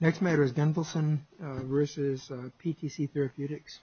Next matter is Gunvalson versus PTCTherapeutics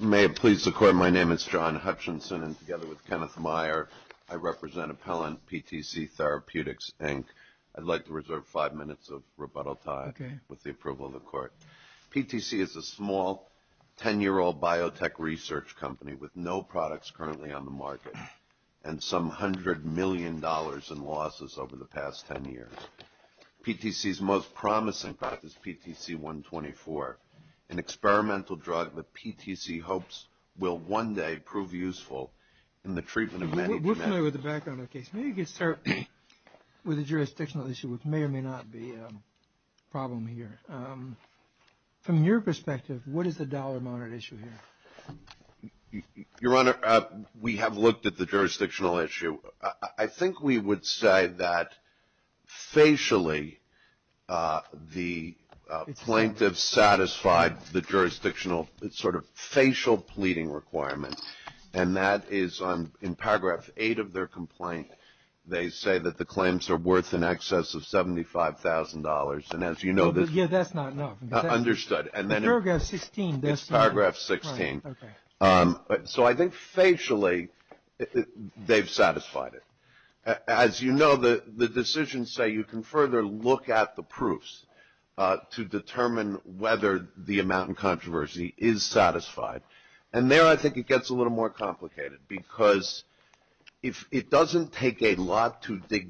May it please the Court, my name is John Hutchinson and together with Kenneth Meyer, I represent Appellant PTCTherapeutics Inc. I'd like to reserve five minutes of rebuttal time with the approval of the Court. PTC is a small, 10-year-old biotech research company with no products currently on the market and some $100 million in losses over the past 10 years. PTC's most promising product is PTC-124, an experimental drug that PTC hopes will one day prove useful in the treatment of man-eating- patients. PTC's most promising product is PTC-124, an experimental drug that PTC hopes will one day prove useful in the treatment of man-eating- PTC's most promising product is PTC-124, an experimental drug that PTC hopes will one day prove useful in the treatment of man-eating- patients. This is very complicated because it doesn't take a lot to dig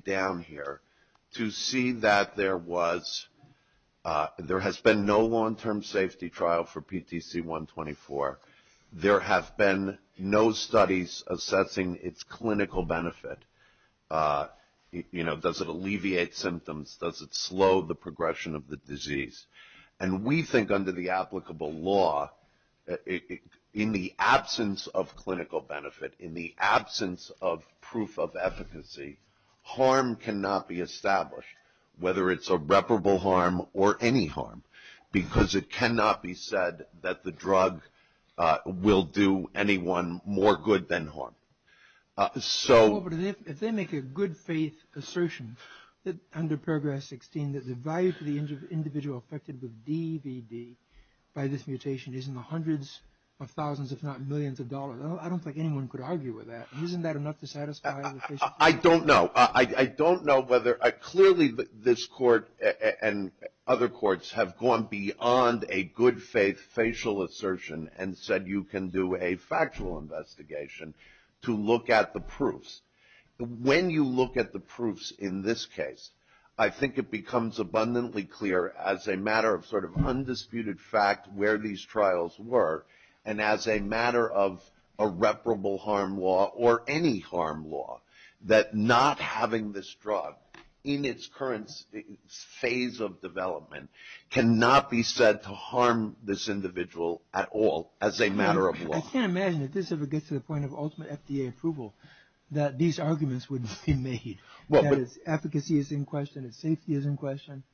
down here to see that there has been no long-term safety trial for PTC-124. There have been no studies assessing its clinical benefit. You know, does it alleviate symptoms? Does it slow the progression of the disease? And we think under the applicable law, in the absence of clinical benefit, in the absence of proof of efficacy, harm cannot be established, whether it's irreparable harm or any harm, because it cannot be said that the drug will do anyone more good than harm. So... But if they make a good-faith assertion under paragraph 16 that the value to the individual affected with DVD by this mutation is in the hundreds of thousands, if not millions of dollars, I don't think anyone could argue with that. Isn't that enough to satisfy the patient? I don't know. I don't know whether... Clearly, this court and other courts have gone beyond a good-faith facial assertion and said you can do a factual investigation to look at the proofs. When you look at the proofs in this case, I think it becomes abundantly clear, as a matter of sort of undisputed fact, where these trials were, and as a matter of irreparable harm law or any harm law, that not having this drug in its current phase of development cannot be said to harm this individual at all as a matter of law. I can't imagine if this ever gets to the point of ultimate FDA approval that these arguments would be made. Well, but... That its efficacy is in question, its safety is in question.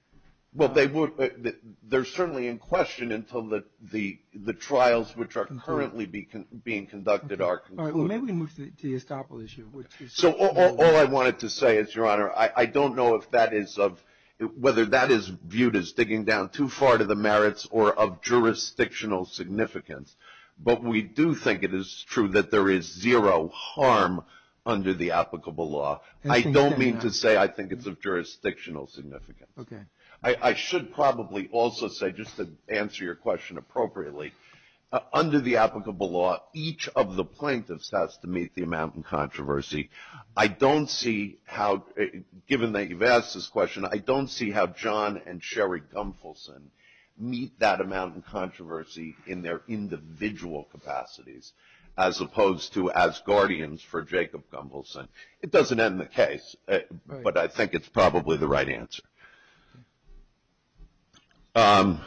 Well, they would... They're certainly in question until the trials which are currently being conducted are concluded. All right. Well, maybe we can move to the estoppel issue, which is... So, all I wanted to say is, Your Honor, I don't know if that is of... Looking down too far to the merits or of jurisdictional significance, but we do think it is true that there is zero harm under the applicable law. I don't mean to say I think it's of jurisdictional significance. Okay. I should probably also say, just to answer your question appropriately, under the applicable law, each of the plaintiffs has to meet the amount in controversy. I don't see how, given that you've asked this question, I don't see how John and Sherry Gumfelson meet that amount in controversy in their individual capacities, as opposed to as guardians for Jacob Gumfelson. It doesn't end the case, but I think it's probably the right answer. I'm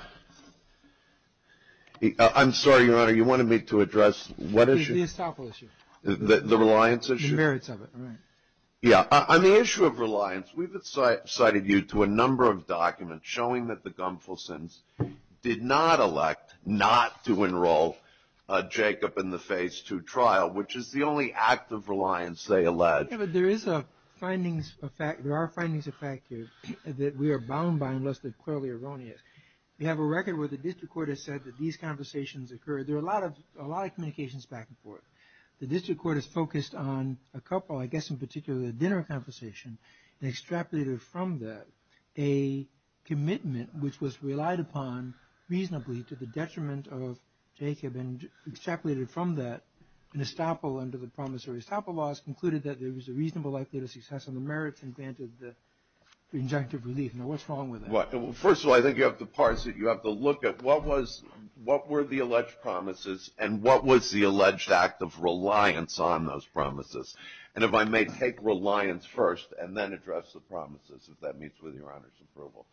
sorry, Your Honor, you wanted me to address what issue? The estoppel issue. The reliance issue? The merits of it. Right. Yeah. On the issue of reliance, we've cited you to a number of documents showing that the Gumfelsons did not elect not to enroll Jacob in the Phase 2 trial, which is the only act of reliance they allege. Yeah, but there is a findings... There are findings effective that we are bound by, unless they're clearly erroneous. We have a record where the district court has said that these conversations occur... There are a lot of communications back and forth. The district court has focused on a couple, I guess in particular the dinner conversation, and extrapolated from that a commitment which was relied upon reasonably to the detriment of Jacob, and extrapolated from that an estoppel under the promissory estoppel laws concluded that there was a reasonable likelihood of success on the merits and granted the injunctive relief. Now, what's wrong with that? Well, first of all, I think you have to parse it. You have to look at what were the alleged promises, and what was the alleged act of reliance on those promises. And if I may take reliance first, and then address the promises, if that meets with Your Honor's approval.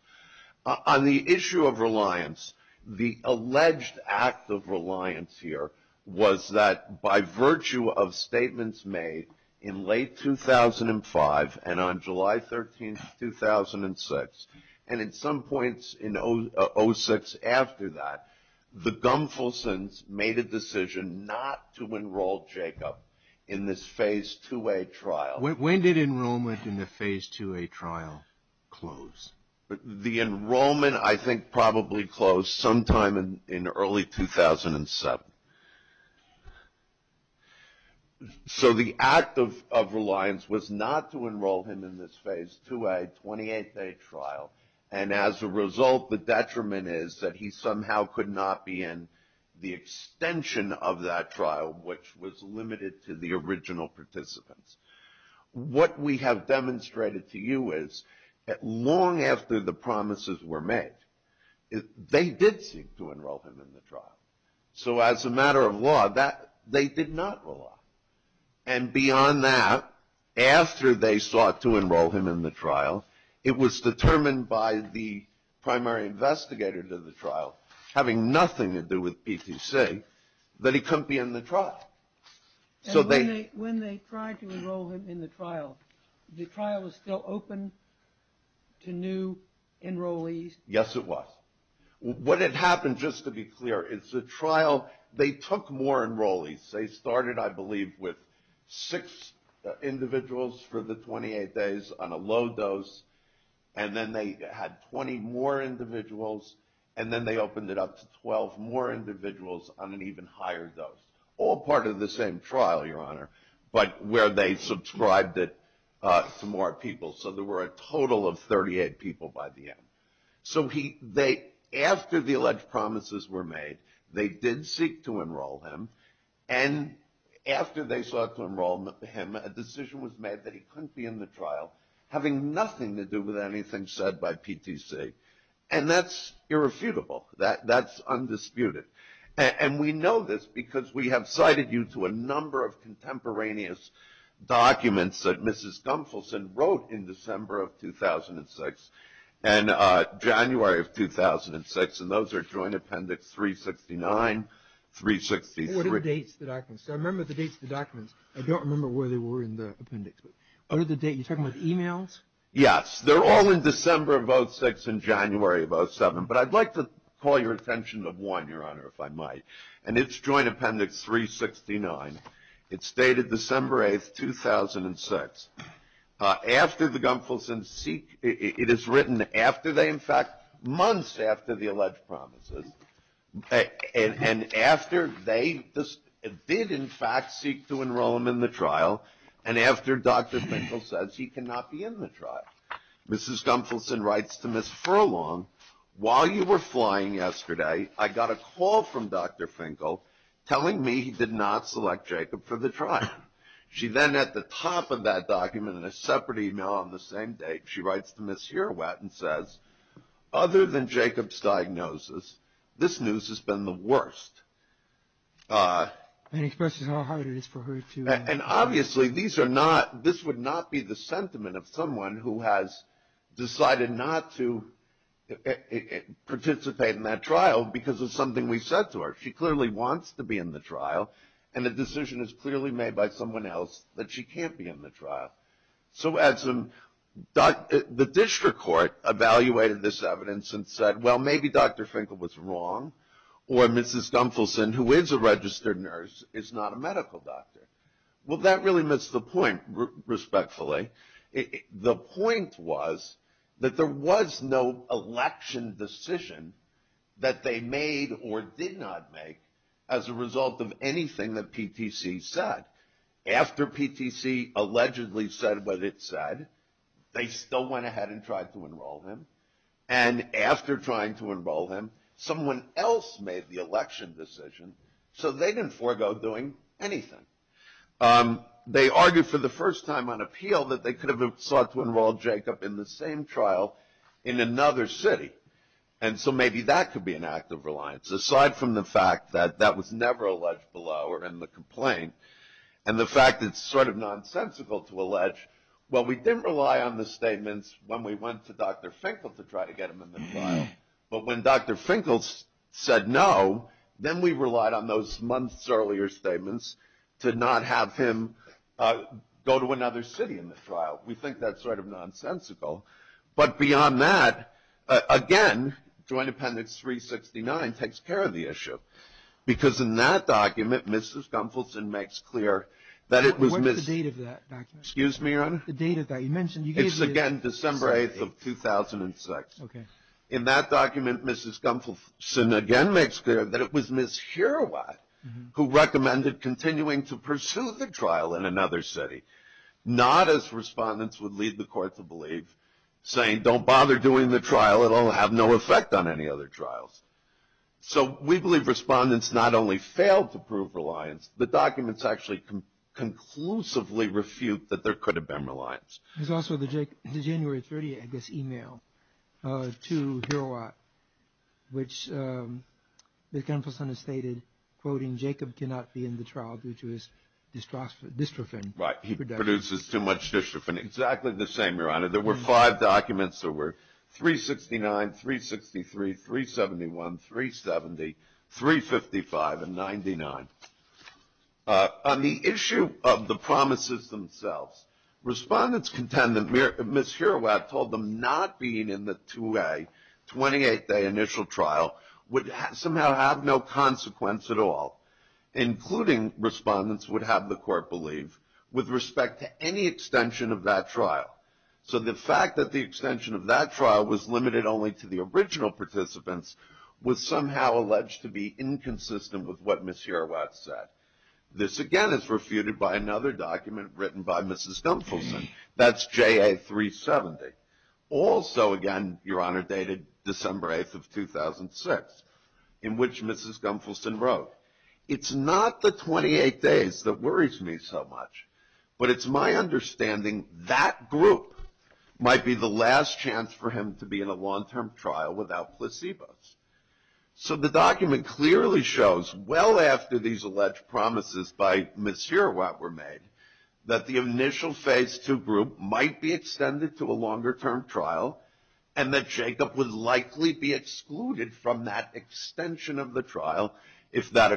On the issue of reliance, the alleged act of reliance here was that by virtue of statements made in late 2005, and on July 13th, 2006, and at some points in 06 after that, the Gumfelsons made a decision not to enroll Jacob in this Phase 2A trial. When did enrollment in the Phase 2A trial close? The enrollment, I think, probably closed sometime in early 2007. So the act of reliance was not to enroll him in this Phase 2A 28-day trial. And as a result, the detriment is that he somehow could not be in the extension of that trial, which was limited to the original participants. What we have demonstrated to you is that long after the promises were made, they did seek to enroll him in the trial. So as a matter of law, they did not rely. And beyond that, after they sought to enroll him in the trial, it was determined by the primary investigator to the trial, having nothing to do with PTC, that he couldn't be in the trial. And when they tried to enroll him in the trial, the trial was still open to new enrollees? Yes, it was. What had happened, just to be clear, is the trial, they took more enrollees. They started, I believe, with six individuals for the 28 days on a low dose, and then they had 20 more individuals, and then they opened it up to 12 more individuals on an even higher dose, all part of the same trial, Your Honor, but where they subscribed it to more people. So there were a total of 38 people by the end. So after the alleged promises were made, they did seek to enroll him. And after they sought to enroll him, a decision was made that he couldn't be in the trial, having nothing to do with anything said by PTC. And that's irrefutable. That's undisputed. And we know this because we have cited you to a number of contemporaneous documents that Mrs. Gunfelsen wrote in December of 2006 and January of 2006, and those are Joint Appendix 369, 363. What are the dates of the documents? I remember the dates of the documents. I don't remember where they were in the appendix, but what are the dates? Are you talking about emails? Yes. They're all in December of 06 and January of 07. But I'd like to call your attention to one, Your Honor, if I might, and it's Joint Appendix 369. It's dated December 8, 2006. After the Gunfelsen seek – it is written after they, in fact, months after the alleged promises, and after they did, in fact, seek to enroll him in the trial, and after Dr. Finkel says he cannot be in the trial, Mrs. Gunfelsen writes to Ms. Furlong, while you were flying yesterday, I got a call from Dr. Finkel telling me he did not select Jacob for the trial. She then, at the top of that document, in a separate email on the same date, she writes to Ms. Herowat and says, other than Jacob's diagnosis, this news has been the worst. And expresses how hard it is for her to – And obviously, these are not – this would not be the sentiment of someone who has decided not to participate in that trial because of something we said to her. She clearly wants to be in the trial, and the decision is clearly made by someone else that she can't be in the trial. So as the district court evaluated this evidence and said, well, maybe Dr. Finkel was wrong, or Mrs. Gunfelsen, who is a registered nurse, is not a medical doctor. Well, that really missed the point, respectfully. The point was that there was no election decision that they made or did not make as a result of anything that PTC said. After PTC allegedly said what it said, they still went ahead and tried to enroll him. And after trying to enroll him, someone else made the election decision, so they didn't forego doing anything. They argued for the first time on appeal that they could have sought to enroll Jacob in the same trial in another city. And so maybe that could be an act of reliance. Aside from the fact that that was never alleged below or in the complaint, and the fact that it's sort of nonsensical to allege, well, we didn't rely on the statements when we went to Dr. Finkel to try to get him in the trial. But when Dr. Finkel said no, then we relied on those months earlier statements to not have him go to another city in the trial. We think that's sort of nonsensical. But beyond that, again, Joint Appendix 369 takes care of the issue, because in that document, Mrs. Gunfelsen makes clear that it was Ms. What's the date of that document? Excuse me, Your Honor? The date of that. You mentioned you gave the date. It's, again, December 8th of 2006. Okay. In that document, Mrs. Gunfelsen again makes clear that it was Ms. Herowat who recommended continuing to pursue the trial in another city, not as respondents would lead the court to believe, saying, don't bother doing the trial. It will have no effect on any other trials. So we believe respondents not only failed to prove reliance, the documents actually conclusively refute that there could have been reliance. There's also the January 30th, I guess, email to Herowat, which Ms. Gunfelsen has stated, quoting, Jacob cannot be in the trial due to his dystrophin production. Right. He produces too much dystrophin. Exactly the same, Your Honor. There were five documents. There were 369, 363, 371, 370, 355, and 99. On the issue of the promises themselves, respondents contend that Ms. Herowat told them not being in the 2A 28-day initial trial would somehow have no consequence at all, including respondents would have the court believe, with respect to any extension of that trial. So the fact that the extension of that trial was limited only to the original participants was somehow alleged to be inconsistent with what Ms. Herowat said. This, again, is refuted by another document written by Ms. Gunfelsen. That's JA 370. Also, again, Your Honor, dated December 8th of 2006, in which Ms. Gunfelsen wrote, it's not the 28 days that worries me so much, but it's my understanding that group might be the last chance for him to be in a long-term trial without placebos. So the document clearly shows, well after these alleged promises by Ms. Herowat were made, that the initial Phase 2 group might be extended to a longer-term trial, and that Jacob would likely be excluded from that extension of the trial if that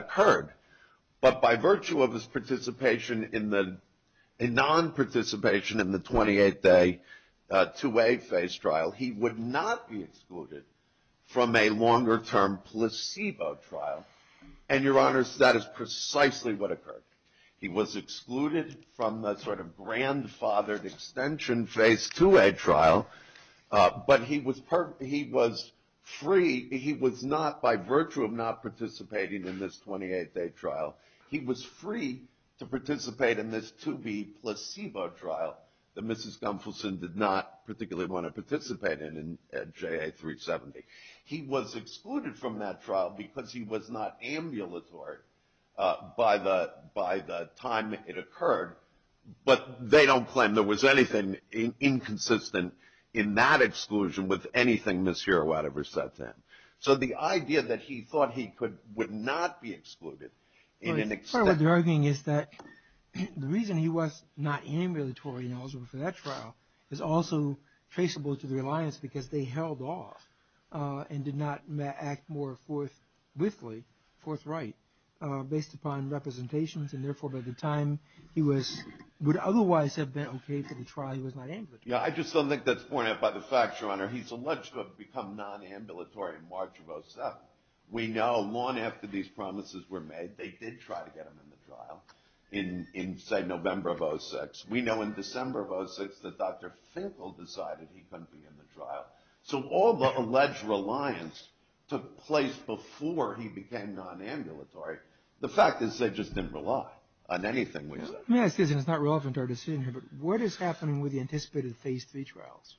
non-participation in the 28-day 2A phase trial, he would not be excluded from a longer-term placebo trial. And, Your Honor, that is precisely what occurred. He was excluded from the sort of grandfathered extension Phase 2A trial, but he was free, he was not, by virtue of not participating in this 28-day trial, he was free to participate in this 2B placebo trial that Mrs. Gunfelsen did not particularly want to participate in at JA370. He was excluded from that trial because he was not ambulatory by the time it occurred, but they don't claim there was anything inconsistent in that exclusion with anything Ms. Herowat ever said to him. So the idea that he thought he would not be excluded in an extension... Part of what they're arguing is that the reason he was not ambulatory for that trial is also traceable to the reliance because they held off and did not act more forthwithly, forthright, based upon representations, and therefore by the time he would otherwise have been okay for the trial, he was not ambulatory. Yeah, I just don't think that's pointed out by the facts, Your Honor. He's alleged to have become non-ambulatory in March of 07. We know long after these promises were made, they did try to get him in the trial in, say, November of 06. We know in December of 06 that Dr. Finkel decided he couldn't be in the trial. So all the alleged reliance took place before he became non-ambulatory. The fact is they just didn't rely on anything we said. Excuse me, it's not relevant to our decision here, but what is happening with the anticipated Phase III trials?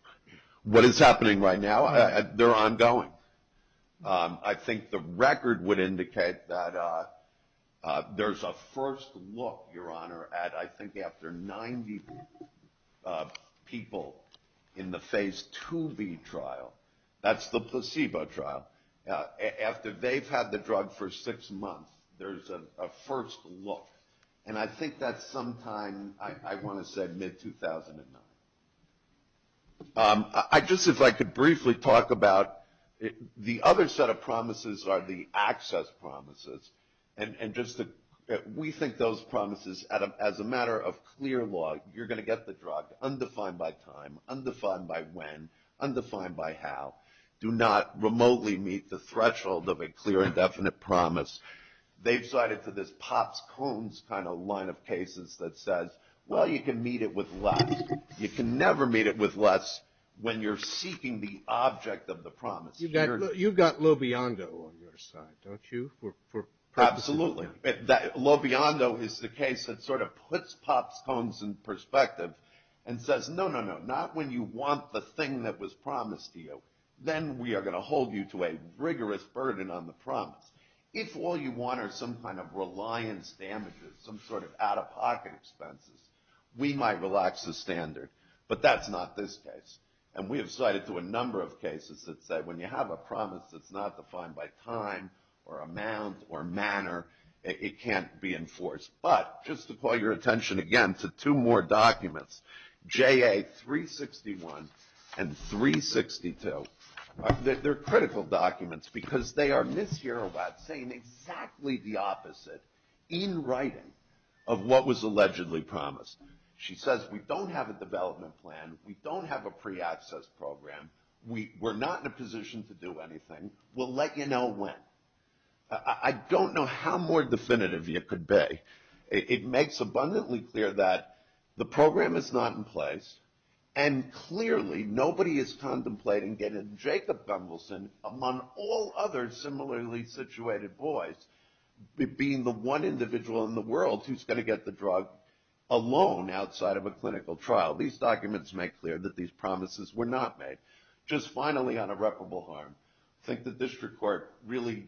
What is happening right now? They're ongoing. I think the record would indicate that there's a first look, Your Honor, at I think after 90 people in the Phase IIb trial, that's the placebo trial, after they've had the drug for six months, there's a first look. And I think that's sometime, I want to say, mid-2009. Just if I could briefly talk about the other set of promises are the access promises. And we think those promises, as a matter of clear law, you're going to get the drug, undefined by time, undefined by when, undefined by how, do not remotely meet the threshold of a clear and definite promise. They've cited to this Pops Cones kind of line of cases that says, well, you can meet it with less. You can never meet it with less when you're seeking the object of the promise. You've got Lobiondo on your side, don't you? Absolutely. Lobiondo is the case that sort of puts Pops Cones in perspective and says, no, no, no, not when you want the thing that was promised to you. Then we are going to hold you to a rigorous burden on the promise. If all you want are some kind of reliance damages, some sort of out-of-pocket expenses, we might relax the standard. But that's not this case. And we have cited to a number of cases that say, when you have a promise that's not defined by time or amount or manner, it can't be enforced. But just to call your attention again to two more documents, JA 361 and 362, they're critical documents because they are mishear about saying exactly the opposite in writing of what was allegedly promised. She says, we don't have a development plan. We don't have a pre-access program. We're not in a position to do anything. We'll let you know when. I don't know how more definitive you could be. It makes abundantly clear that the program is not in place, and clearly nobody is contemplating getting Jacob Gumbelson, among all other similarly situated boys, being the one individual in the world who's going to get the drug alone outside of a clinical trial. These documents make clear that these promises were not made. Just finally on irreparable harm, I think the district court really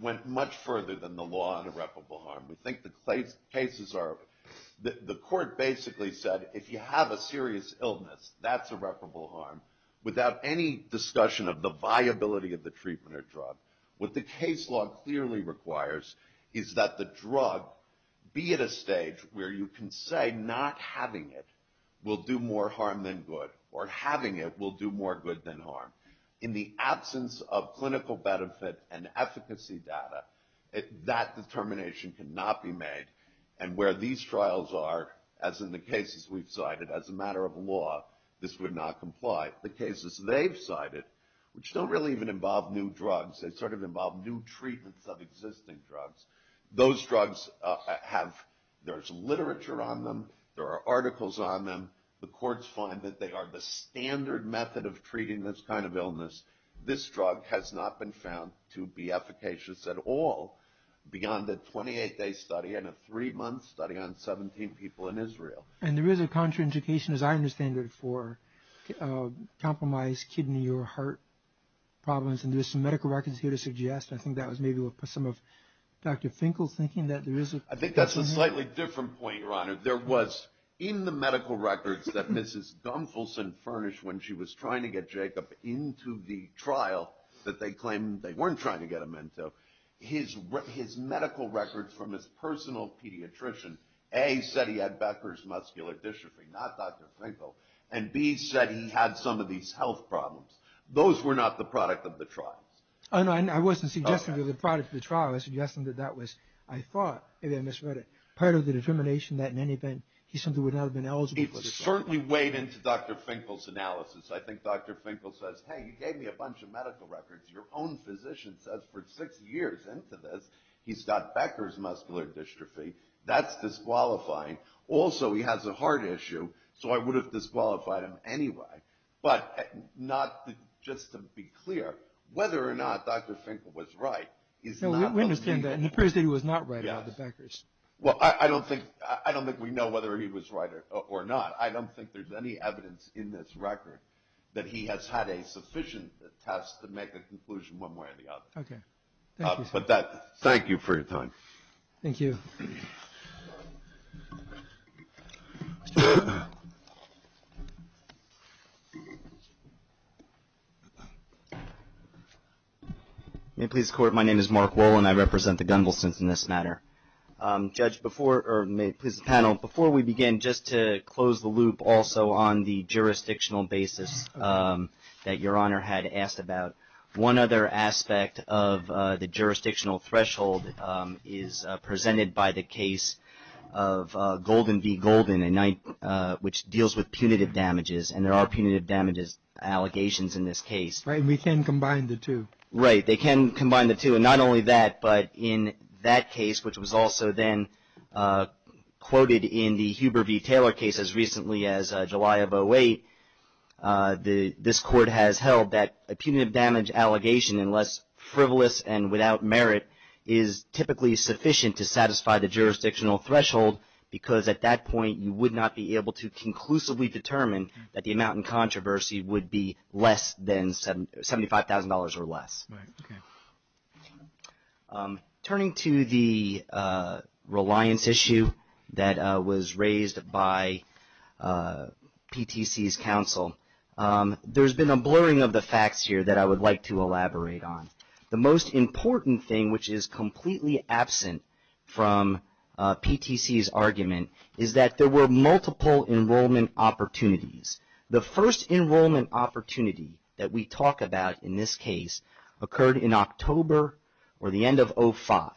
went much further than the law on irreparable harm. We think the cases are, the court basically said, if you have a serious illness, that's irreparable harm, without any discussion of the viability of the treatment or drug. What the case law clearly requires is that the drug be at a stage where you can say not having it will do more harm than good, or having it will do more good than harm. In the absence of clinical benefit and efficacy data, that determination cannot be made, and where these trials are, as in the cases we've cited, as a matter of law, this would not comply. The cases they've cited, which don't really even involve new drugs, they sort of involve new treatments of existing drugs, those drugs have, there's literature on them, there are articles on them, this drug has not been found to be efficacious at all beyond a 28-day study and a three-month study on 17 people in Israel. And there is a contraindication, as I understand it, for compromised kidney or heart problems, and there's some medical records here to suggest, and I think that was maybe some of Dr. Finkel's thinking, that there is a... I think that's a slightly different point, Your Honor. There was, in the medical records that Mrs. Gunfelsen furnished when she was trying to get Jacob into the trial that they claimed they weren't trying to get him into, his medical records from his personal pediatrician, A, said he had Becker's muscular dystrophy, not Dr. Finkel, and B, said he had some of these health problems. Those were not the product of the trials. Oh, no, I wasn't suggesting they were the product of the trial. I was suggesting that that was, I thought, maybe I misread it, part of the determination that in any event, he simply would not have been eligible for the trial. It certainly weighed into Dr. Finkel's analysis. I think Dr. Finkel says, hey, you gave me a bunch of medical records. Your own physician says for six years into this, he's got Becker's muscular dystrophy. That's disqualifying. Also, he has a heart issue, so I would have disqualified him anyway. But not just to be clear, whether or not Dr. Finkel was right is not... No, we understand that, and it appears that he was not right about the Beckers. Well, I don't think we know whether he was right or not. I don't think there's any evidence in this record that he has had a sufficient test to make a conclusion one way or the other. Okay. Thank you. But thank you for your time. Thank you. May it please the Court, my name is Mark Woll, and I represent the Gundelsens in this matter. Judge, before... or may it please the panel, before we begin, just to close the loop also on the jurisdictional basis that Your Honor had asked about, one other aspect of the jurisdictional threshold is presented by the case of Golden v. Golden, which deals with punitive damages, and there are punitive damages allegations in this case. Right, and we can combine the two. Right, they can combine the two, and not only that, but in that case, which was also then quoted in the Huber v. Taylor case as recently as July of 08, this Court has held that a punitive damage allegation, unless frivolous and without merit, is typically sufficient to satisfy the jurisdictional threshold, because at that point you would not be able to conclusively determine that the amount in controversy would be less than $75,000 or less. Right, okay. Turning to the reliance issue that was raised by PTC's counsel, there's been a blurring of the facts here that I would like to elaborate on. The most important thing, which is completely absent from PTC's argument, is that there were multiple enrollment opportunities. The first enrollment opportunity that we talk about in this case occurred in October, or the end of 05.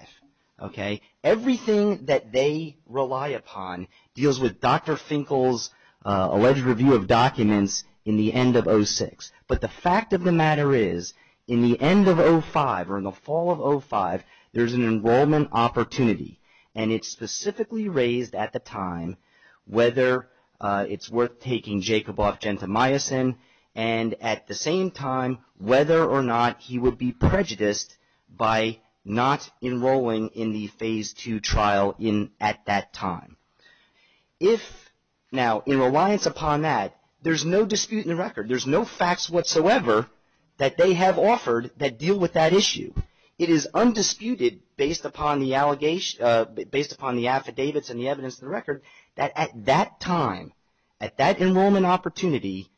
Okay, everything that they rely upon deals with Dr. Finkel's alleged review of documents in the end of 06. But the fact of the matter is, in the end of 05, or in the fall of 05, there's an enrollment opportunity, and it's specifically raised at the time whether it's worth taking Jacob off Gentemeyerson, and at the same time, whether or not he would be prejudiced by not enrolling in the Phase 2 trial at that time. Now, in reliance upon that, there's no dispute in the record. There's no facts whatsoever that they have offered that deal with that issue. It is undisputed, based upon the affidavits and the evidence in the record, that at that time, at that enrollment opportunity,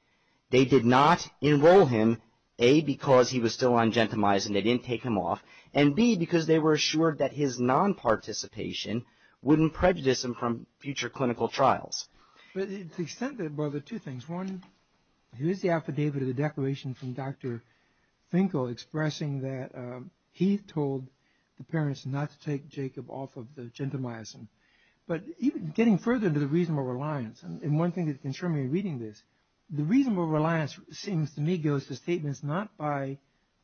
they did not enroll him, A, because he was still on Gentemeyerson, they didn't take him off, and B, because they were assured that his non-participation wouldn't prejudice him from future clinical trials. But it's extended by the two things. One, here's the affidavit of the declaration from Dr. Finkel expressing that he told the parents not to take Jacob off of Gentemeyerson. But getting further into the reasonable reliance, and one thing that concerns me in reading this, the reasonable reliance seems to me goes to statements not by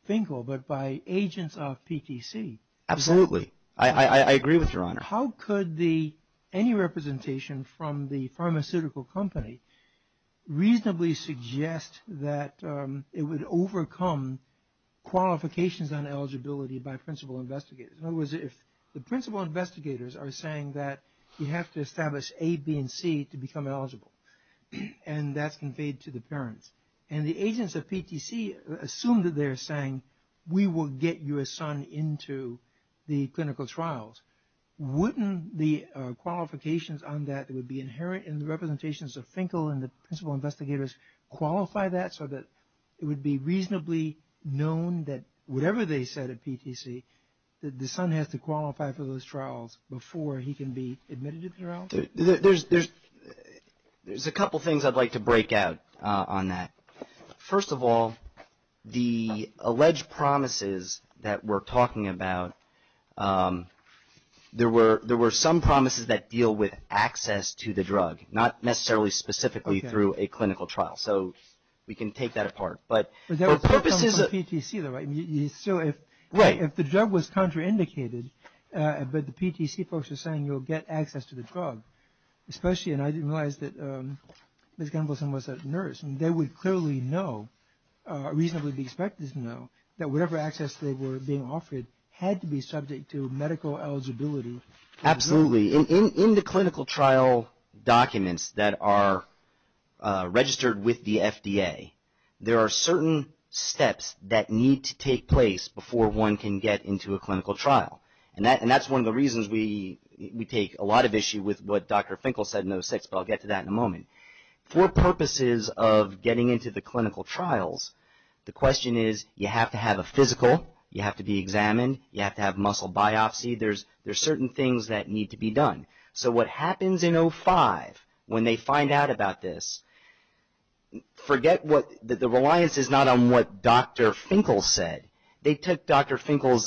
Finkel, but by agents of PTC. Absolutely. I agree with Your Honor. How could any representation from the pharmaceutical company reasonably suggest that it would overcome qualifications on eligibility by principal investigators? In other words, if the principal investigators are saying that you have to establish A, B, and C to become eligible, and that's conveyed to the parents, and the agents of PTC assume that they're saying, we will get your son into the clinical trials, wouldn't the qualifications on that that would be inherent in the representations of Finkel and the principal investigators qualify that so that it would be reasonably known that whatever they said at PTC, that the son has to qualify for those trials before he can be admitted to the trials? There's a couple things I'd like to break out on that. First of all, the alleged promises that we're talking about, there were some promises that deal with access to the drug, not necessarily specifically through a clinical trial. So, we can take that apart. But there were some promises from PTC though, right? So, if the drug was contraindicated, but the PTC folks are saying you'll get access to the drug, especially, and I didn't realize that Ms. Gunvalson was a nurse, and they would clearly know, reasonably be expected to know, that whatever access they were being offered had to be subject to medical eligibility. Absolutely. In the clinical trial documents that are registered with the FDA, there are certain steps that need to take place before one can get into a clinical trial. And that's one of the reasons we take a lot of issue with what Dr. Finkel said in 06, but I'll get to that in a moment. For purposes of getting into the clinical trials, the question is you have to have a physical, you have to be examined, you have to have muscle biopsy. There's certain things that need to be done. So, what happens in 05, when they find out about this, forget that the reliance is not on what Dr. Finkel said. They took Dr. Finkel's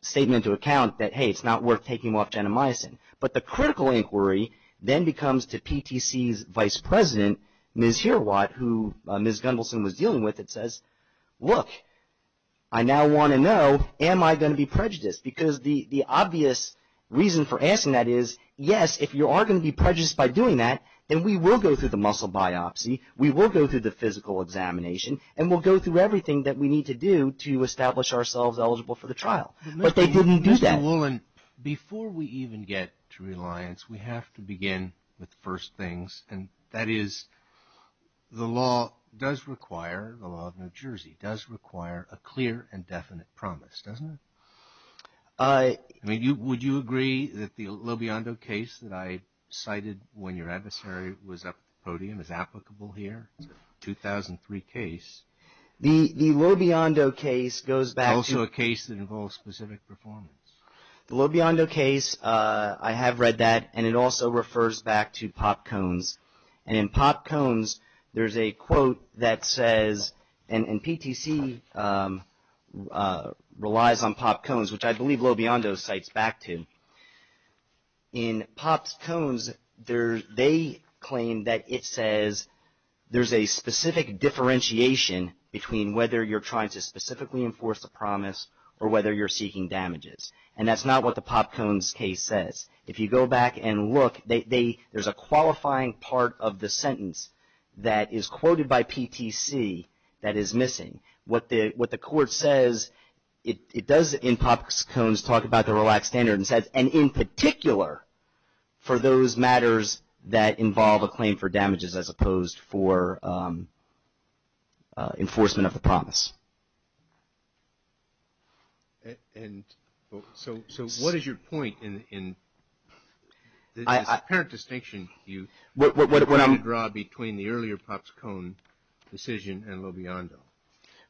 statement into account that, hey, it's not worth taking off genomycin. But the critical inquiry then becomes to PTC's Vice President, Ms. Hirwat, who Ms. Gunvalson was dealing with, that says, look, I now want to know, am I going to be prejudiced? Because the obvious reason for asking that is, yes, if you are going to be prejudiced by doing that, then we will go through the muscle biopsy, we will go through the physical examination, and we'll go through everything that we need to do to establish ourselves eligible for the trial. But they didn't do that. Mr. Woolen, before we even get to reliance, we have to begin with the first things, and that is the law does require, the law of New Jersey, does require a clear and definite promise, doesn't it? Would you agree that the Lobiondo case that I cited when your adversary was up at the podium is applicable here? It's a 2003 case. The Lobiondo case goes back to Also a case that involves specific performance. The Lobiondo case, I have read that, and it also refers back to pop cones. And in pop cones, there's a quote that says, and PTC relies on pop cones, which I believe Lobiondo cites back to. In pop cones, they claim that it says there's a specific differentiation between whether you're trying to specifically enforce a promise or whether you're seeking damages. And that's not what the pop cones case says. If you go back and look, there's a qualifying part of the sentence that is quoted by PTC that is missing. What the court says, it does in pop cones talk about the relaxed standard and says, and in particular for those matters that involve a claim for damages as opposed for enforcement of the promise. And so what is your point in the apparent distinction you draw between the earlier pop cone decision and Lobiondo?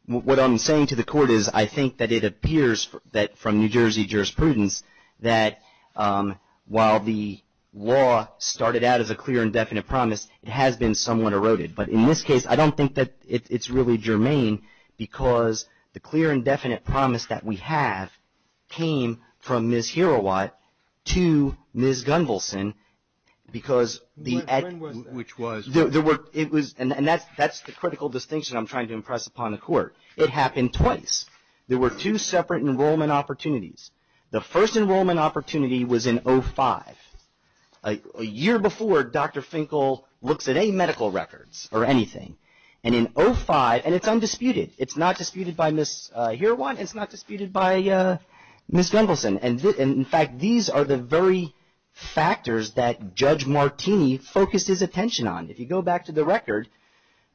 What I'm saying to the court is I think that it appears that from New Jersey jurisprudence that while the law started out as a clear and definite promise, it has been somewhat eroded. But in this case, I don't think that it's really germane because the clear and definite promise that we have came from Ms. Herowat to Ms. Gunvalson, because the act... Which was? And that's the critical distinction I'm trying to impress upon the court. It happened twice. There were two separate enrollment opportunities. The first enrollment opportunity was in 05. A year before, Dr. Finkel looks at any medical records or anything. And in 05, and it's undisputed. It's not disputed by Ms. Herowat. It's not disputed by Ms. Gunvalson. And in fact, these are the very factors that Judge Martini focused his attention on. If you go back to the record,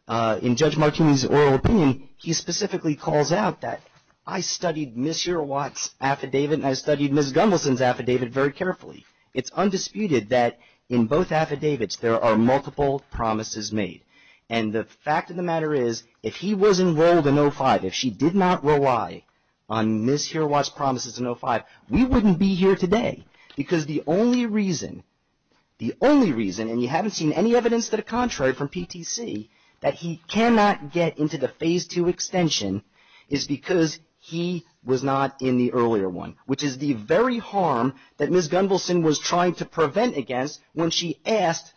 in Judge Martini's oral opinion, he specifically calls out that I studied Ms. Gunvalson's affidavit very carefully. It's undisputed that in both affidavits, there are multiple promises made. And the fact of the matter is, if he was enrolled in 05, if she did not rely on Ms. Herowat's promises in 05, we wouldn't be here today. Because the only reason, the only reason, and you haven't seen any evidence to the contrary from PTC, that he cannot get into the Phase II extension, is because he was not in the earlier one. Which is the very harm that Ms. Gunvalson was trying to prevent against when she asked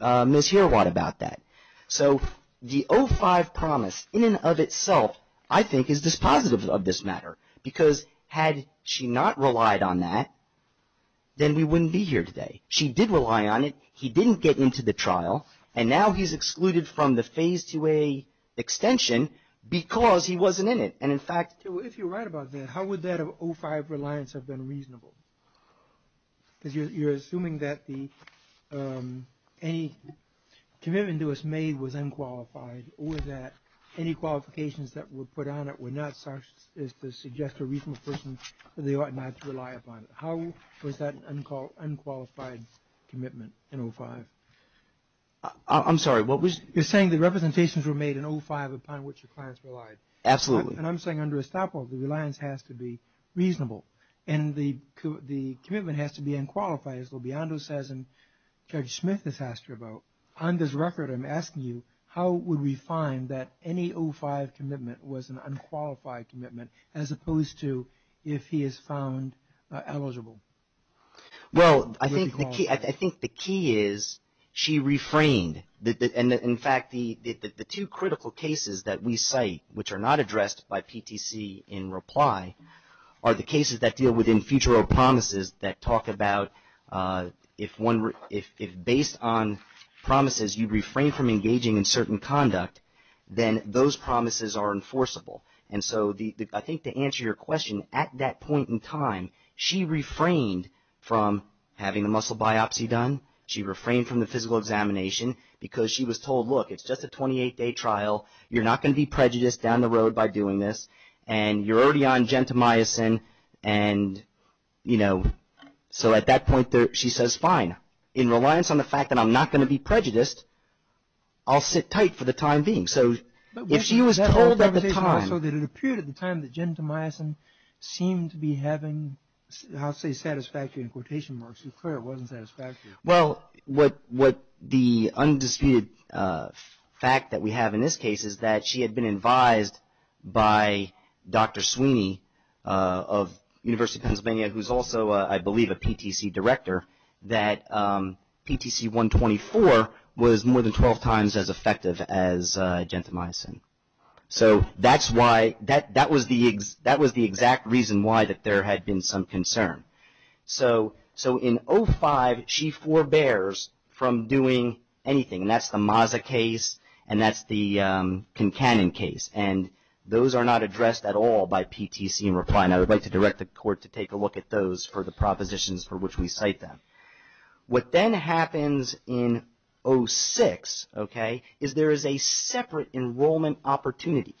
Ms. Herowat about that. So, the 05 promise, in and of itself, I think is dispositive of this matter. Because had she not relied on that, then we wouldn't be here today. She did rely on it. He didn't get into the trial. And now he's excluded from the Phase IIa extension because he wasn't in it. And in fact... If you're right about that, how would that 05 reliance have been reasonable? Because you're assuming that any commitment that was made was unqualified, or that any qualifications that were put on it were not such as to suggest to a reasonable person that they ought not to rely upon it. How was that an unqualified commitment in 05? I'm sorry, what was... You're saying the representations were made in 05 upon which your clients relied. Absolutely. And I'm saying under estoppel, the reliance has to be reasonable. And the commitment has to be unqualified, as Lobiondo says and Judge Smith has asked you about. On this record, I'm asking you, how would we find that any 05 commitment was an unqualified commitment, as opposed to if he is found eligible? Well, I think the key is she refrained. In fact, the two critical cases that we cite, which are not addressed by PTC in reply, are the cases that deal with in-futuro promises that talk about if based on promises you refrain from engaging in certain conduct, then those promises are enforceable. And so, I think to answer your question, at that point in time, she refrained from having the muscle biopsy done. She refrained from the physical examination because she was told, look, it's just a 28-day trial. You're not going to be prejudiced down the road by doing this, and you're already on gentamicin. And, you know, so at that point, she says, fine, in reliance on the fact that I'm not going to be prejudiced, I'll sit tight for the time being. So, if she was told at the time. So, it appeared at the time that gentamicin seemed to be having, I'll say satisfactory in quotation marks. It clearly wasn't satisfactory. Well, what the undisputed fact that we have in this case is that she had been advised by Dr. Sweeney of University of Pennsylvania, who's also, I believe, a PTC director, that PTC-124 was more than 12 times as effective as gentamicin. So, that was the exact reason why that there had been some concern. So, in 05, she forbears from doing anything. And that's the Maza case, and that's the Concannon case. And those are not addressed at all by PTC in reply. And I would like to direct the court to take a look at those for the propositions for which we cite them. What then happens in 06, okay, is there is a separate enrollment opportunity.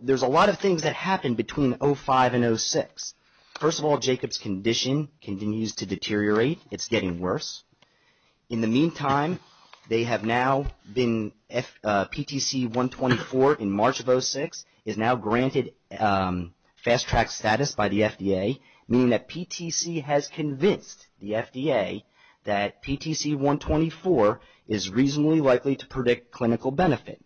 There's a lot of things that happen between 05 and 06. First of all, Jacob's condition continues to deteriorate. It's getting worse. In the meantime, they have now been PTC-124 in March of 06 is now granted fast-track status by the FDA, meaning that PTC has convinced the FDA that PTC-124 is reasonably likely to predict clinical benefit.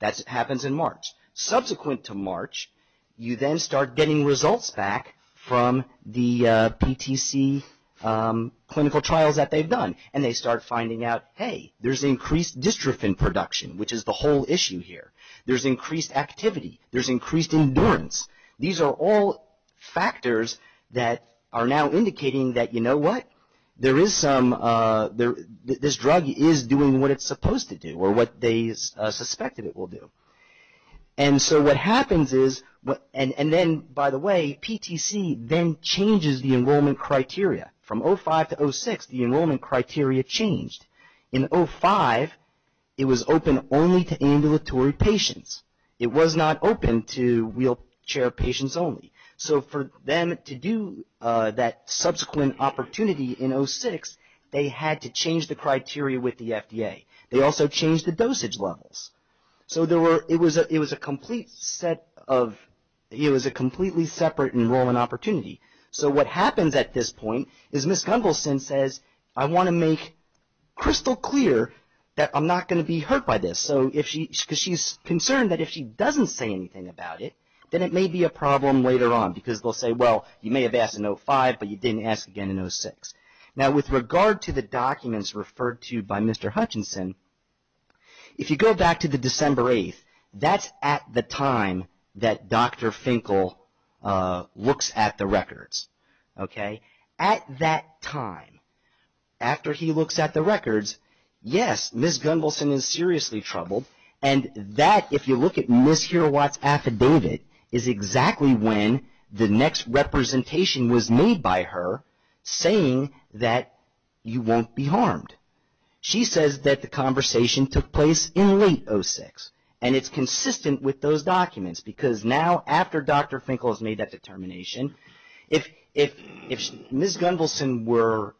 That happens in March. Subsequent to March, you then start getting results back from the PTC clinical trials that they've done. And they start finding out, hey, there's increased dystrophin production, which is the whole issue here. There's increased activity. There's increased endurance. These are all factors that are now indicating that, you know what, there is some, this drug is doing what it's supposed to do or what they suspected it will do. And so what happens is, and then, by the way, PTC then changes the enrollment criteria. From 05 to 06, the enrollment criteria changed. In 05, it was open only to ambulatory patients. It was not open to wheelchair patients only. So for them to do that subsequent opportunity in 06, they had to change the criteria with the FDA. They also changed the dosage levels. So there were, it was a complete set of, it was a completely separate enrollment opportunity. So what happens at this point is Ms. Gunvalson says, I want to make crystal clear that I'm not going to be hurt by this. And so if she, because she's concerned that if she doesn't say anything about it, then it may be a problem later on. Because they'll say, well, you may have asked in 05, but you didn't ask again in 06. Now with regard to the documents referred to by Mr. Hutchinson, if you go back to the December 8th, that's at the time that Dr. Finkel looks at the records. Okay? At that time, after he looks at the records, yes, Ms. Gunvalson is seriously troubled. And that, if you look at Ms. Hero-Watt's affidavit, is exactly when the next representation was made by her saying that you won't be harmed. She says that the conversation took place in late 06. And it's consistent with those documents. Because now, after Dr. Finkel has made that determination, if Ms. Gunvalson were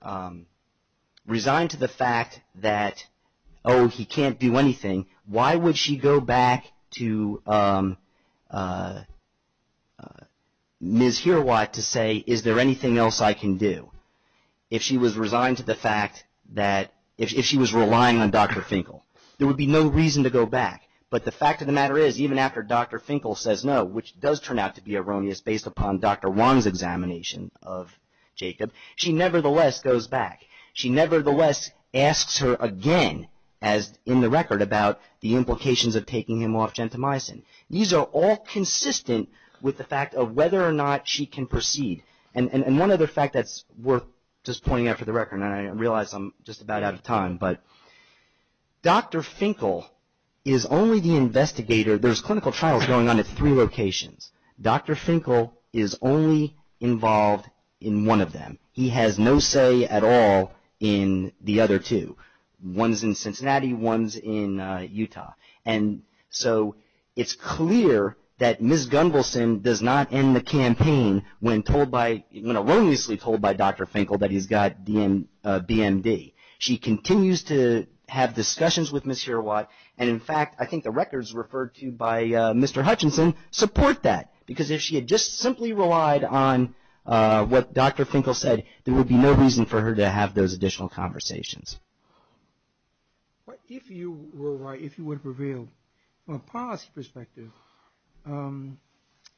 resigned to the fact that, oh, he can't do anything, why would she go back to Ms. Hero-Watt to say, is there anything else I can do? If she was resigned to the fact that, if she was relying on Dr. Finkel. There would be no reason to go back. But the fact of the matter is, even after Dr. Finkel says no, which does turn out to be erroneous based upon Dr. Wong's examination of Jacob, she nevertheless goes back. She nevertheless asks her again, as in the record, about the implications of taking him off gentamicin. These are all consistent with the fact of whether or not she can proceed. And one other fact that's worth just pointing out for the record, and I realize I'm just about out of time, but Dr. Finkel is only the investigator. There's clinical trials going on at three locations. Dr. Finkel is only involved in one of them. He has no say at all in the other two. One's in Cincinnati, one's in Utah. And so, it's clear that Ms. Gunvalson does not end the campaign when told by, when erroneously told by Dr. Finkel that he's got BMD. She continues to have discussions with Ms. Hirawat, and in fact, I think the records referred to by Mr. Hutchinson support that. Because if she had just simply relied on what Dr. Finkel said, there would be no reason for her to have those additional conversations. If you were right, if you would have revealed, from a policy perspective,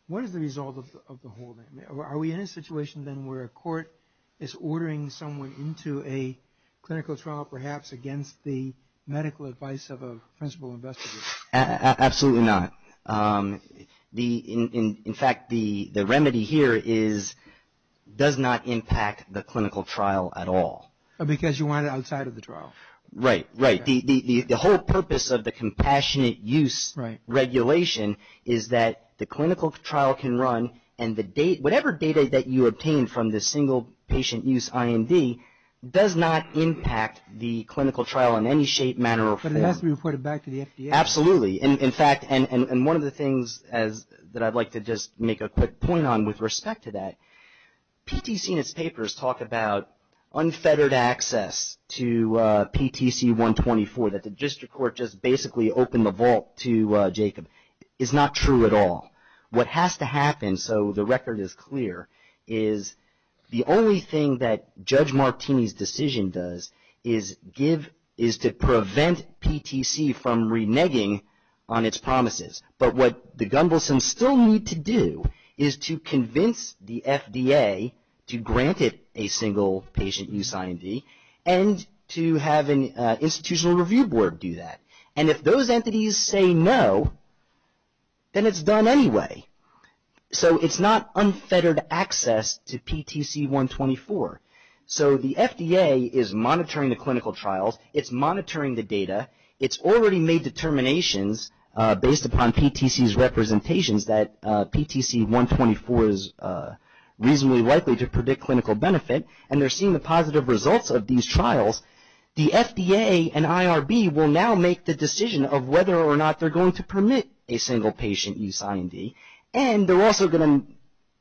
what is the result of the whole thing? Are we in a situation then where a court is ordering someone into a clinical trial, perhaps, against the medical advice of a principal investigator? Absolutely not. In fact, the remedy here is, does not impact the clinical trial at all. Because you want it outside of the trial. Right, right. The whole purpose of the compassionate use regulation is that the clinical trial can run, and whatever data that you obtain from the single patient use IMD does not impact the clinical trial in any shape, manner, or form. But it has to be reported back to the FDA. Absolutely. In fact, and one of the things that I'd like to just make a quick point on with respect to that, PTC in its papers talk about unfettered access to PTC-124, that the district court just basically opened the vault to Jacob. It's not true at all. What has to happen, so the record is clear, is the only thing that Judge Martini's decision does is give, is to prevent PTC from reneging on its promises. But what the Gumbelsons still need to do is to convince the FDA to grant it a single patient use IMD, and to have an institutional review board do that. And if those entities say no, then it's done anyway. So, it's not unfettered access to PTC-124. So, the FDA is monitoring the clinical trials. It's monitoring the data. It's already made determinations based upon PTC's representations that PTC-124 is reasonably likely to predict clinical benefit, and they're seeing the positive results of these trials. The FDA and IRB will now make the decision of whether or not they're going to permit a single patient use IMD, and they're also going to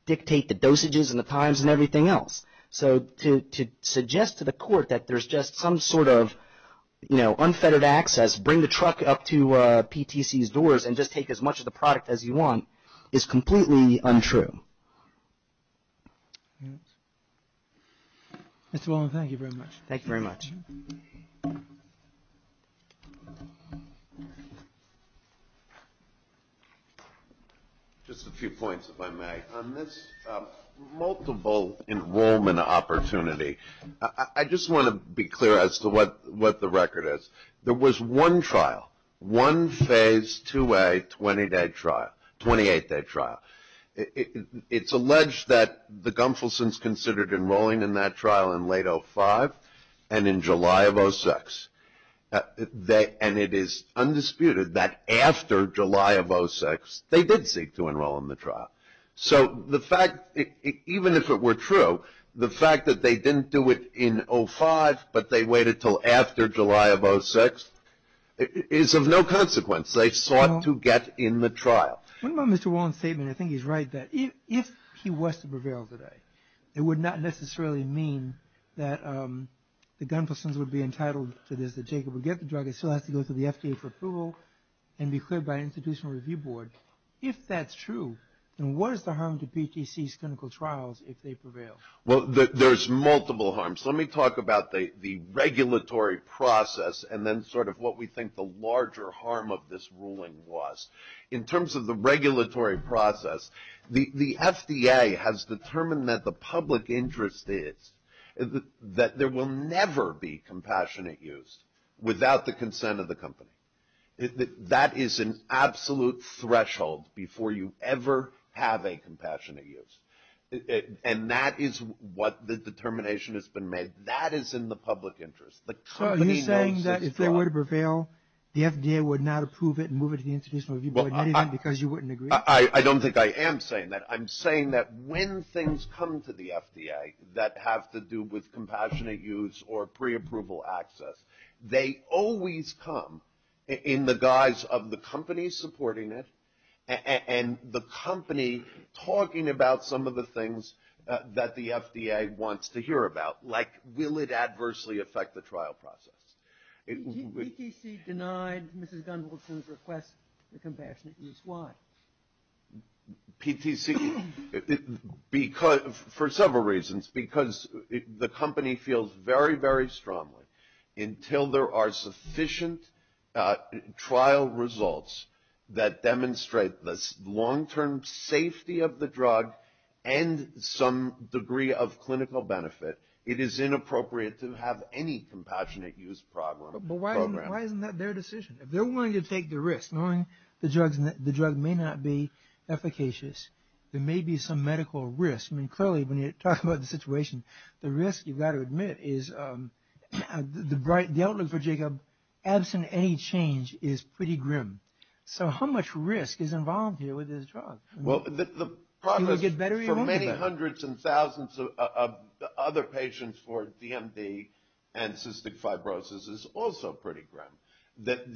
dictate the dosages and the times and everything else. So, to suggest to the court that there's just some sort of, you know, unfettered access, bring the truck up to PTC's doors and just take as much of the product as you want is completely untrue. Mr. Wallin, thank you very much. Thank you very much. Just a few points, if I may. On this multiple enrollment opportunity, I just want to be clear as to what the record is. There was one trial, one phase 2A 20-day trial, 28-day trial. It's alleged that the Gunfelsons considered enrolling in that trial in late 05 and in July of 06. And it is undisputed that after July of 06, they did seek to enroll in the trial. So, the fact, even if it were true, the fact that they didn't do it in 05, but they waited until after July of 06, is of no consequence. They sought to get in the trial. What about Mr. Wallin's statement? I think he's right that if he was to prevail today, it would not necessarily mean that the Gunfelsons would be entitled to this, that Jacob would get the drug. It still has to go through the FDA for approval and be cleared by an institutional review board. If that's true, then what is the harm to PTC's clinical trials if they prevail? Well, there's multiple harms. Let me talk about the regulatory process and then sort of what we think the larger harm of this ruling was. In terms of the regulatory process, the FDA has determined that the public interest is that there will never be compassionate use without the consent of the company. That is an absolute threshold before you ever have a compassionate use. And that is what the determination has been made. That is in the public interest. So, are you saying that if they were to prevail, the FDA would not approve it and move it to the institutional review board because you wouldn't agree? I don't think I am saying that. I'm saying that when things come to the FDA that have to do with compassionate use or preapproval access, they always come in the guise of the company supporting it and the company talking about some of the things that the FDA wants to hear about. Like, will it adversely affect the trial process? PTC denied Mrs. Gunvalson's request for compassionate use. Why? PTC, for several reasons, because the company feels very, very strongly until there are sufficient trial results that demonstrate the long-term safety of the drug and some degree of clinical benefit, it is inappropriate to have any compassionate use program. But why isn't that their decision? If they're willing to take the risk, knowing the drug may not be efficacious, there may be some medical risk. I mean, clearly, when you talk about the situation, the risk, you've got to admit, is the outlook for Jacob, absent any change, is pretty grim. So, how much risk is involved here with this drug? Well, the problem is for many hundreds and thousands of other patients for DMV and cystic fibrosis is also pretty grim. But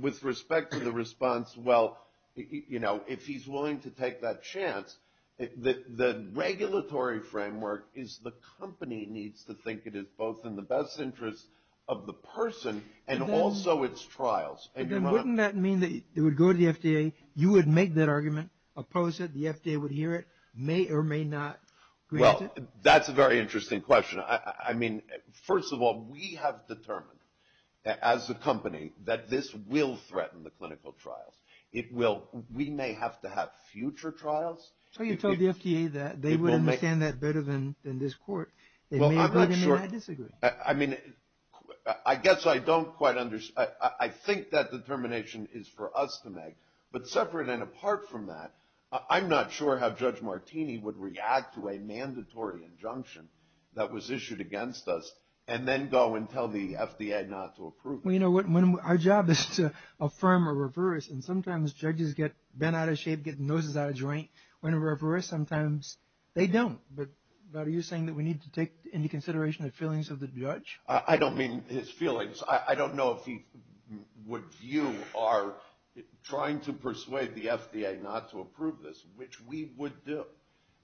with respect to the response, well, you know, if he's willing to take that chance, the regulatory framework is the company needs to think it is both in the best interest of the person and also its trials. And then wouldn't that mean that it would go to the FDA, you would make that argument, oppose it, the FDA would hear it, may or may not grant it? Well, that's a very interesting question. I mean, first of all, we have determined as a company that this will threaten the clinical trials. It will. We may have to have future trials. So you told the FDA that they would understand that better than this court. It may or may not disagree. I mean, I guess I don't quite understand. I think that determination is for us to make. But separate and apart from that, I'm not sure how Judge Martini would react to a mandatory injunction that was issued against us and then go and tell the FDA not to approve it. Well, you know what? Our job is to affirm or reverse. And sometimes judges get bent out of shape, get noses out of joint. When we reverse, sometimes they don't. But are you saying that we need to take into consideration the feelings of the judge? I don't mean his feelings. I don't know if he would view our trying to persuade the FDA not to approve this, which we would do,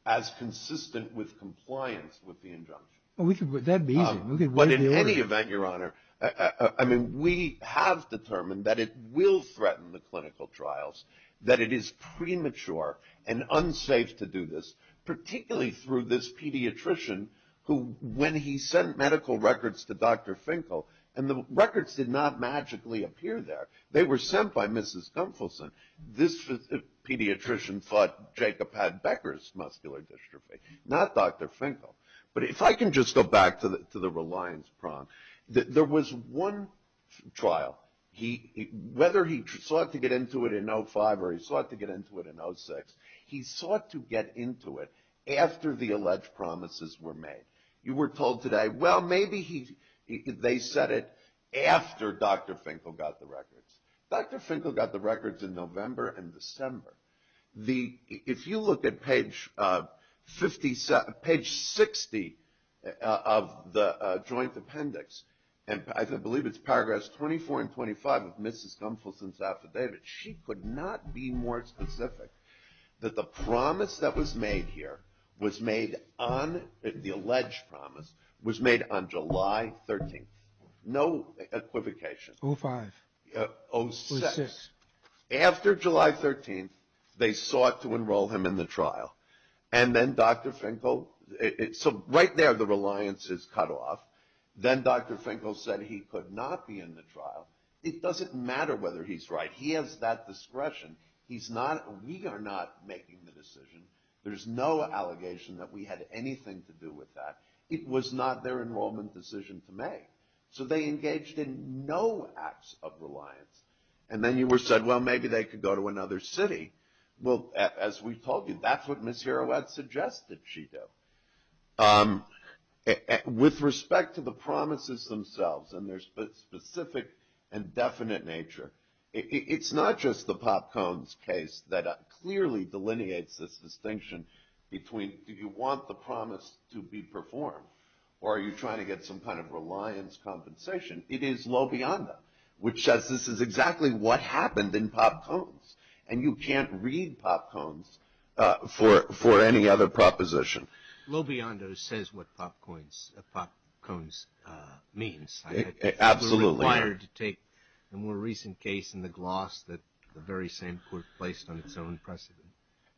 as consistent with compliance with the injunction. That would be easy. But in any event, Your Honor, I mean, we have determined that it will threaten the clinical trials, that it is premature and unsafe to do this, particularly through this pediatrician who, when he sent medical records to Dr. Finkel, and the records did not magically appear there. They were sent by Mrs. Gunfelsen. This pediatrician thought Jacob had Becker's muscular dystrophy, not Dr. Finkel. But if I can just go back to the reliance prompt, there was one trial, whether he sought to get into it in 05 or he sought to get into it in 06, he sought to get into it after the alleged promises were made. You were told today, well, maybe they said it after Dr. Finkel got the records. Dr. Finkel got the records in November and December. If you look at page 60 of the joint appendix, and I believe it's paragraphs 24 and 25 of Mrs. Gunfelsen's affidavit, she could not be more specific that the promise that was made here, the alleged promise, was made on July 13th. No equivocation. 05. 06. After July 13th, they sought to enroll him in the trial. And then Dr. Finkel, so right there the reliance is cut off. Then Dr. Finkel said he could not be in the trial. It doesn't matter whether he's right. He has that discretion. We are not making the decision. There's no allegation that we had anything to do with that. It was not their enrollment decision to make. So they engaged in no acts of reliance. And then you said, well, maybe they could go to another city. Well, as we've told you, that's what Ms. Heroette suggested she do. With respect to the promises themselves and their specific and definite nature, it's not just the Popcones case that clearly delineates this distinction between do you want the promise to be performed or are you trying to get some kind of reliance compensation? It is LoBiondo, which says this is exactly what happened in Popcones. And you can't read Popcones for any other proposition. LoBiondo says what Popcones means. Absolutely. I think it's a little wired to take the more recent case in the gloss that the very same court placed on its own precedent.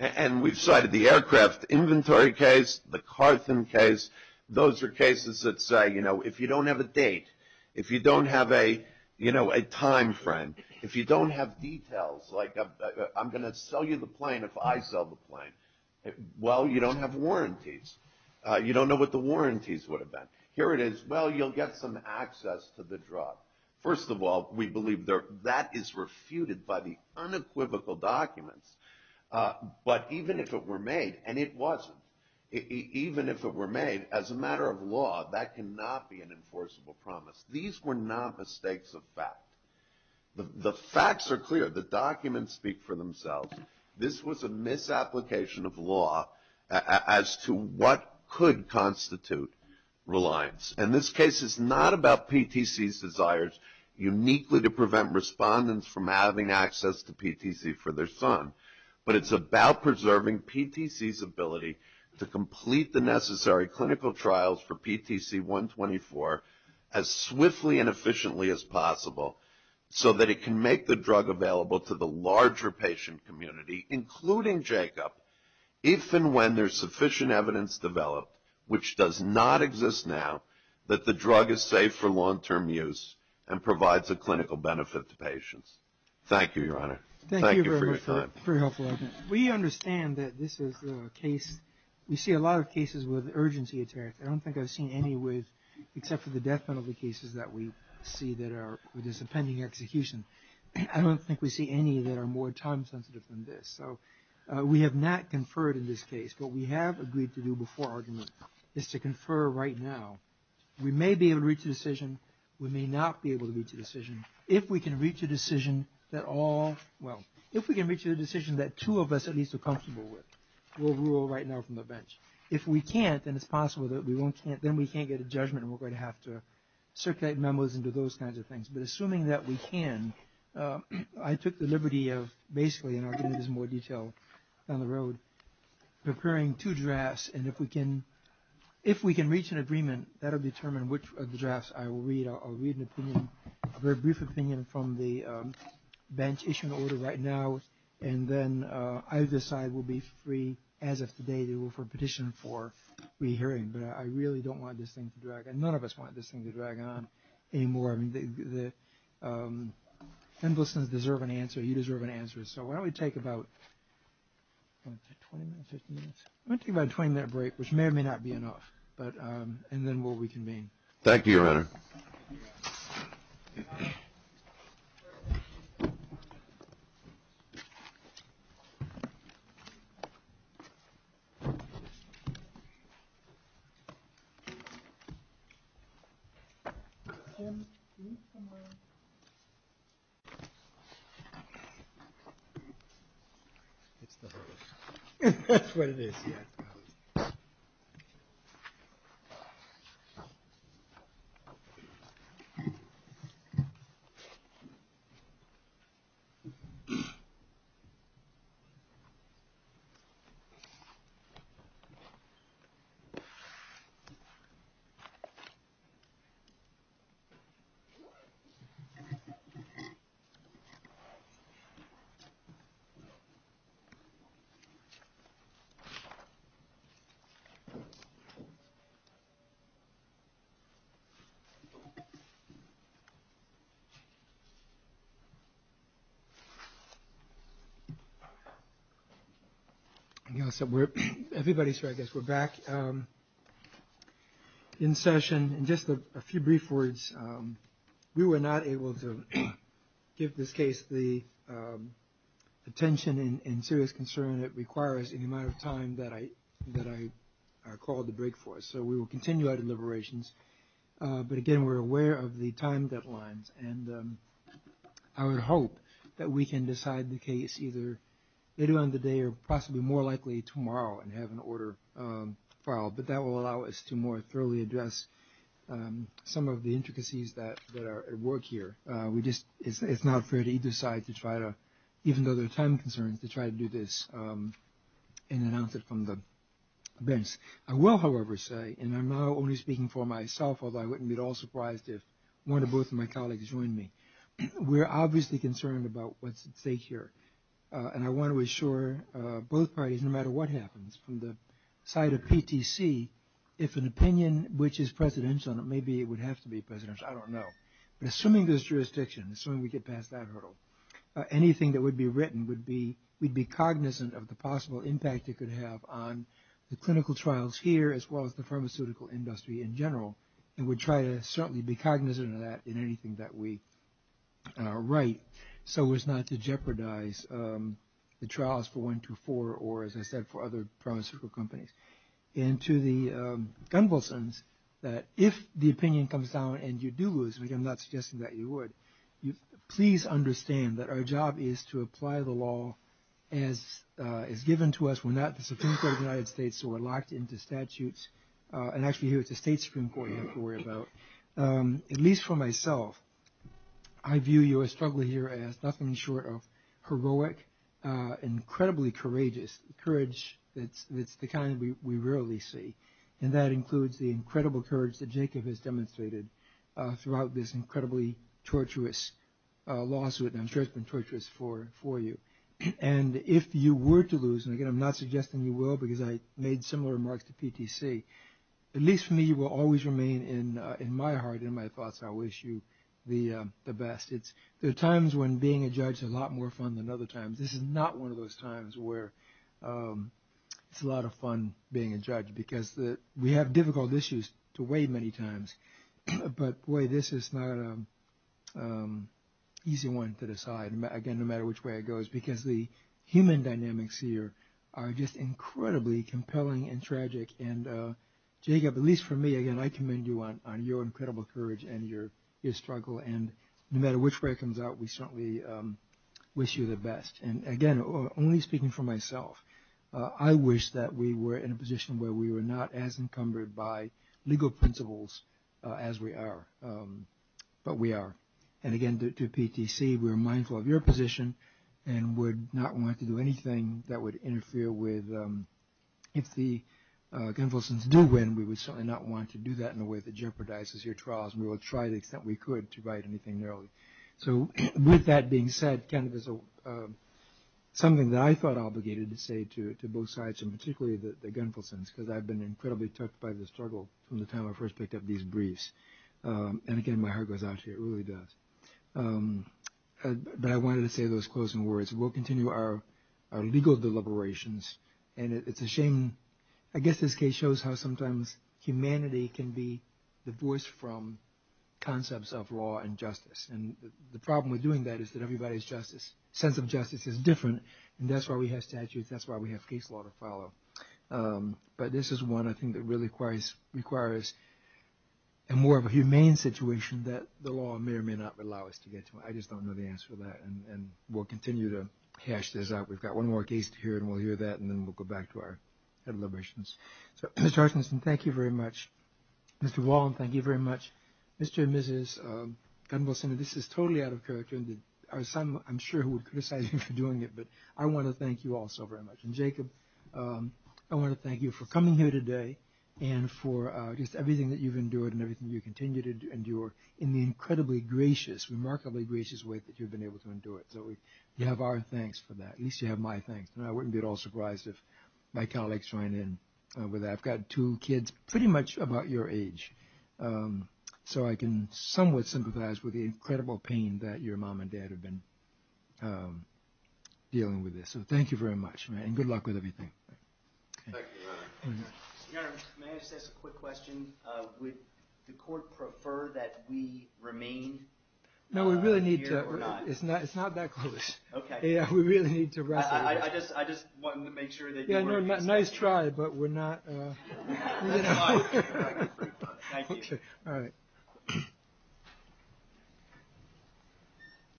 And we've cited the aircraft inventory case, the Cartham case, those are cases that say if you don't have a date, if you don't have a time frame, if you don't have details, like I'm going to sell you the plane if I sell the plane. Well, you don't have warranties. You don't know what the warranties would have been. Here it is. Well, you'll get some access to the drug. First of all, we believe that is refuted by the unequivocal documents. But even if it were made, and it wasn't, even if it were made, as a matter of law, that cannot be an enforceable promise. These were not mistakes of fact. The facts are clear. The documents speak for themselves. This was a misapplication of law as to what could constitute reliance. And this case is not about PTC's desires uniquely to prevent respondents from having access to PTC for their son, but it's about preserving PTC's ability to complete the necessary clinical trials for PTC-124 as swiftly and efficiently as possible, so that it can make the drug available to the larger patient community, including Jacob, if and when there's sufficient evidence developed, which does not exist now, that the drug is safe for long-term use and provides a clinical benefit to patients. Thank you, Your Honor. Thank you for your time. Thank you very much for your helpful argument. We understand that this is a case, we see a lot of cases with urgency attacks. I don't think I've seen any with, except for the death penalty cases that we see that are with this appending execution. I don't think we see any that are more time-sensitive than this. So we have not conferred in this case. What we have agreed to do before argument is to confer right now. We may be able to reach a decision. We may not be able to reach a decision. If we can reach a decision that two of us at least are comfortable with, we'll rule right now from the bench. If we can't, then it's possible that we can't get a judgment and we're going to have to circulate memos and do those kinds of things. But assuming that we can, I took the liberty of basically, and I'll get into this in more detail down the road, preparing two drafts, and if we can reach an agreement, that will determine which of the drafts I will read. I have an opinion, a very brief opinion from the bench issued in order right now, and then either side will be free as of today to vote for a petition for re-hearing. But I really don't want this thing to drag on. None of us want this thing to drag on anymore. I mean, the end listeners deserve an answer. You deserve an answer. So why don't we take about 20 minutes, 15 minutes? Why don't we take about a 20-minute break, which may or may not be enough, and then we'll reconvene. Thank you, Your Honor. Thank you. Everybody's here, I guess. We're back in session. And just a few brief words. We were not able to give this case the attention and serious concern it requires in the amount of time that I called the break for us. So we will continue our deliberations. But again, we're aware of the time deadlines. And I would hope that we can decide the case either later on in the day or possibly more likely tomorrow and have an order filed. But that will allow us to more thoroughly address some of the intricacies that are at work here. It's not fair to either side to try to, even though there are time concerns, to try to do this in an answer from the bench. I will, however, say, and I'm now only speaking for myself, although I wouldn't be at all surprised if one or both of my colleagues joined me, we're obviously concerned about what's at stake here. And I want to assure both parties, no matter what happens, from the side of PTC, if an opinion which is presidential, maybe it would have to be presidential, I don't know. But assuming there's jurisdiction, assuming we get past that hurdle, anything that would be written would be cognizant of the possible impact it could have on the clinical trials here as well as the pharmaceutical industry in general. And we'd try to certainly be cognizant of that in anything that we write so as not to jeopardize the trials for 124 or, as I said, for other pharmaceutical companies. And to the Gunvalsons, that if the opinion comes down and you do lose, which I'm not suggesting that you would, please understand that our job is to apply the law as is given to us. We're not the Supreme Court of the United States, so we're locked into statutes. And actually here it's the State Supreme Court you have to worry about. At least for myself, I view your struggle here as nothing short of heroic, incredibly courageous, courage that's the kind we rarely see. And that includes the incredible courage that Jacob has demonstrated throughout this incredibly torturous lawsuit, and I'm sure it's been torturous for you. And if you were to lose, and again I'm not suggesting you will because I made similar remarks to PTC, at least for me you will always remain in my heart, in my thoughts, I wish you the best. There are times when being a judge is a lot more fun than other times. This is not one of those times where it's a lot of fun being a judge because we have difficult issues to weigh many times. But boy, this is not an easy one to decide. Again, no matter which way it goes, because the human dynamics here are just incredibly compelling and tragic. And Jacob, at least for me, again I commend you on your incredible courage and your struggle. And no matter which way it comes out, we certainly wish you the best. And again, only speaking for myself, I wish that we were in a position where we were not as encumbered by legal principles as we are, but we are. And again, to PTC, we are mindful of your position and would not want to do anything that would interfere with, if the Gunvalsons do win, we would certainly not want to do that in a way that jeopardizes your trials and we will try the extent we could to write anything narrowly. So with that being said, kind of as something that I felt obligated to say to both sides, and particularly the Gunvalsons, because I've been incredibly touched by the struggle from the time I first picked up these briefs. And again, my heart goes out to you, it really does. But I wanted to say those closing words. We'll continue our legal deliberations, and it's a shame. I guess this case shows how sometimes humanity can be divorced from concepts of law and justice. And the problem with doing that is that everybody's sense of justice is different, and that's why we have statutes, that's why we have case law to follow. But this is one, I think, that really requires a more humane situation that the law may or may not allow us to get to. I just don't know the answer to that, and we'll continue to hash this out. We've got one more case to hear, and we'll hear that, and then we'll go back to our deliberations. So, Mr. Archinson, thank you very much. Mr. Wallen, thank you very much. Mr. and Mrs. Gunvalson, this is totally out of character, and I'm sure some will criticize you for doing it, but I want to thank you all so very much. And Jacob, I want to thank you for coming here today and for just everything that you've endured and everything you continue to endure in the incredibly gracious, remarkably gracious way that you've been able to endure it. So we have our thanks for that, at least you have my thanks. And I wouldn't be at all surprised if my colleagues joined in with that. I've got two kids pretty much about your age, so I can somewhat sympathize with the incredible pain that your mom and dad have been dealing with this. So thank you very much, and good luck with everything. Thank you, Your Honor. Your Honor, may I just ask a quick question? Would the court prefer that we remain here or not? No, we really need to—it's not that close. Okay. Yeah, we really need to wrap it up. I just wanted to make sure that you were— Yeah, no, nice try, but we're not— Thank you. All right.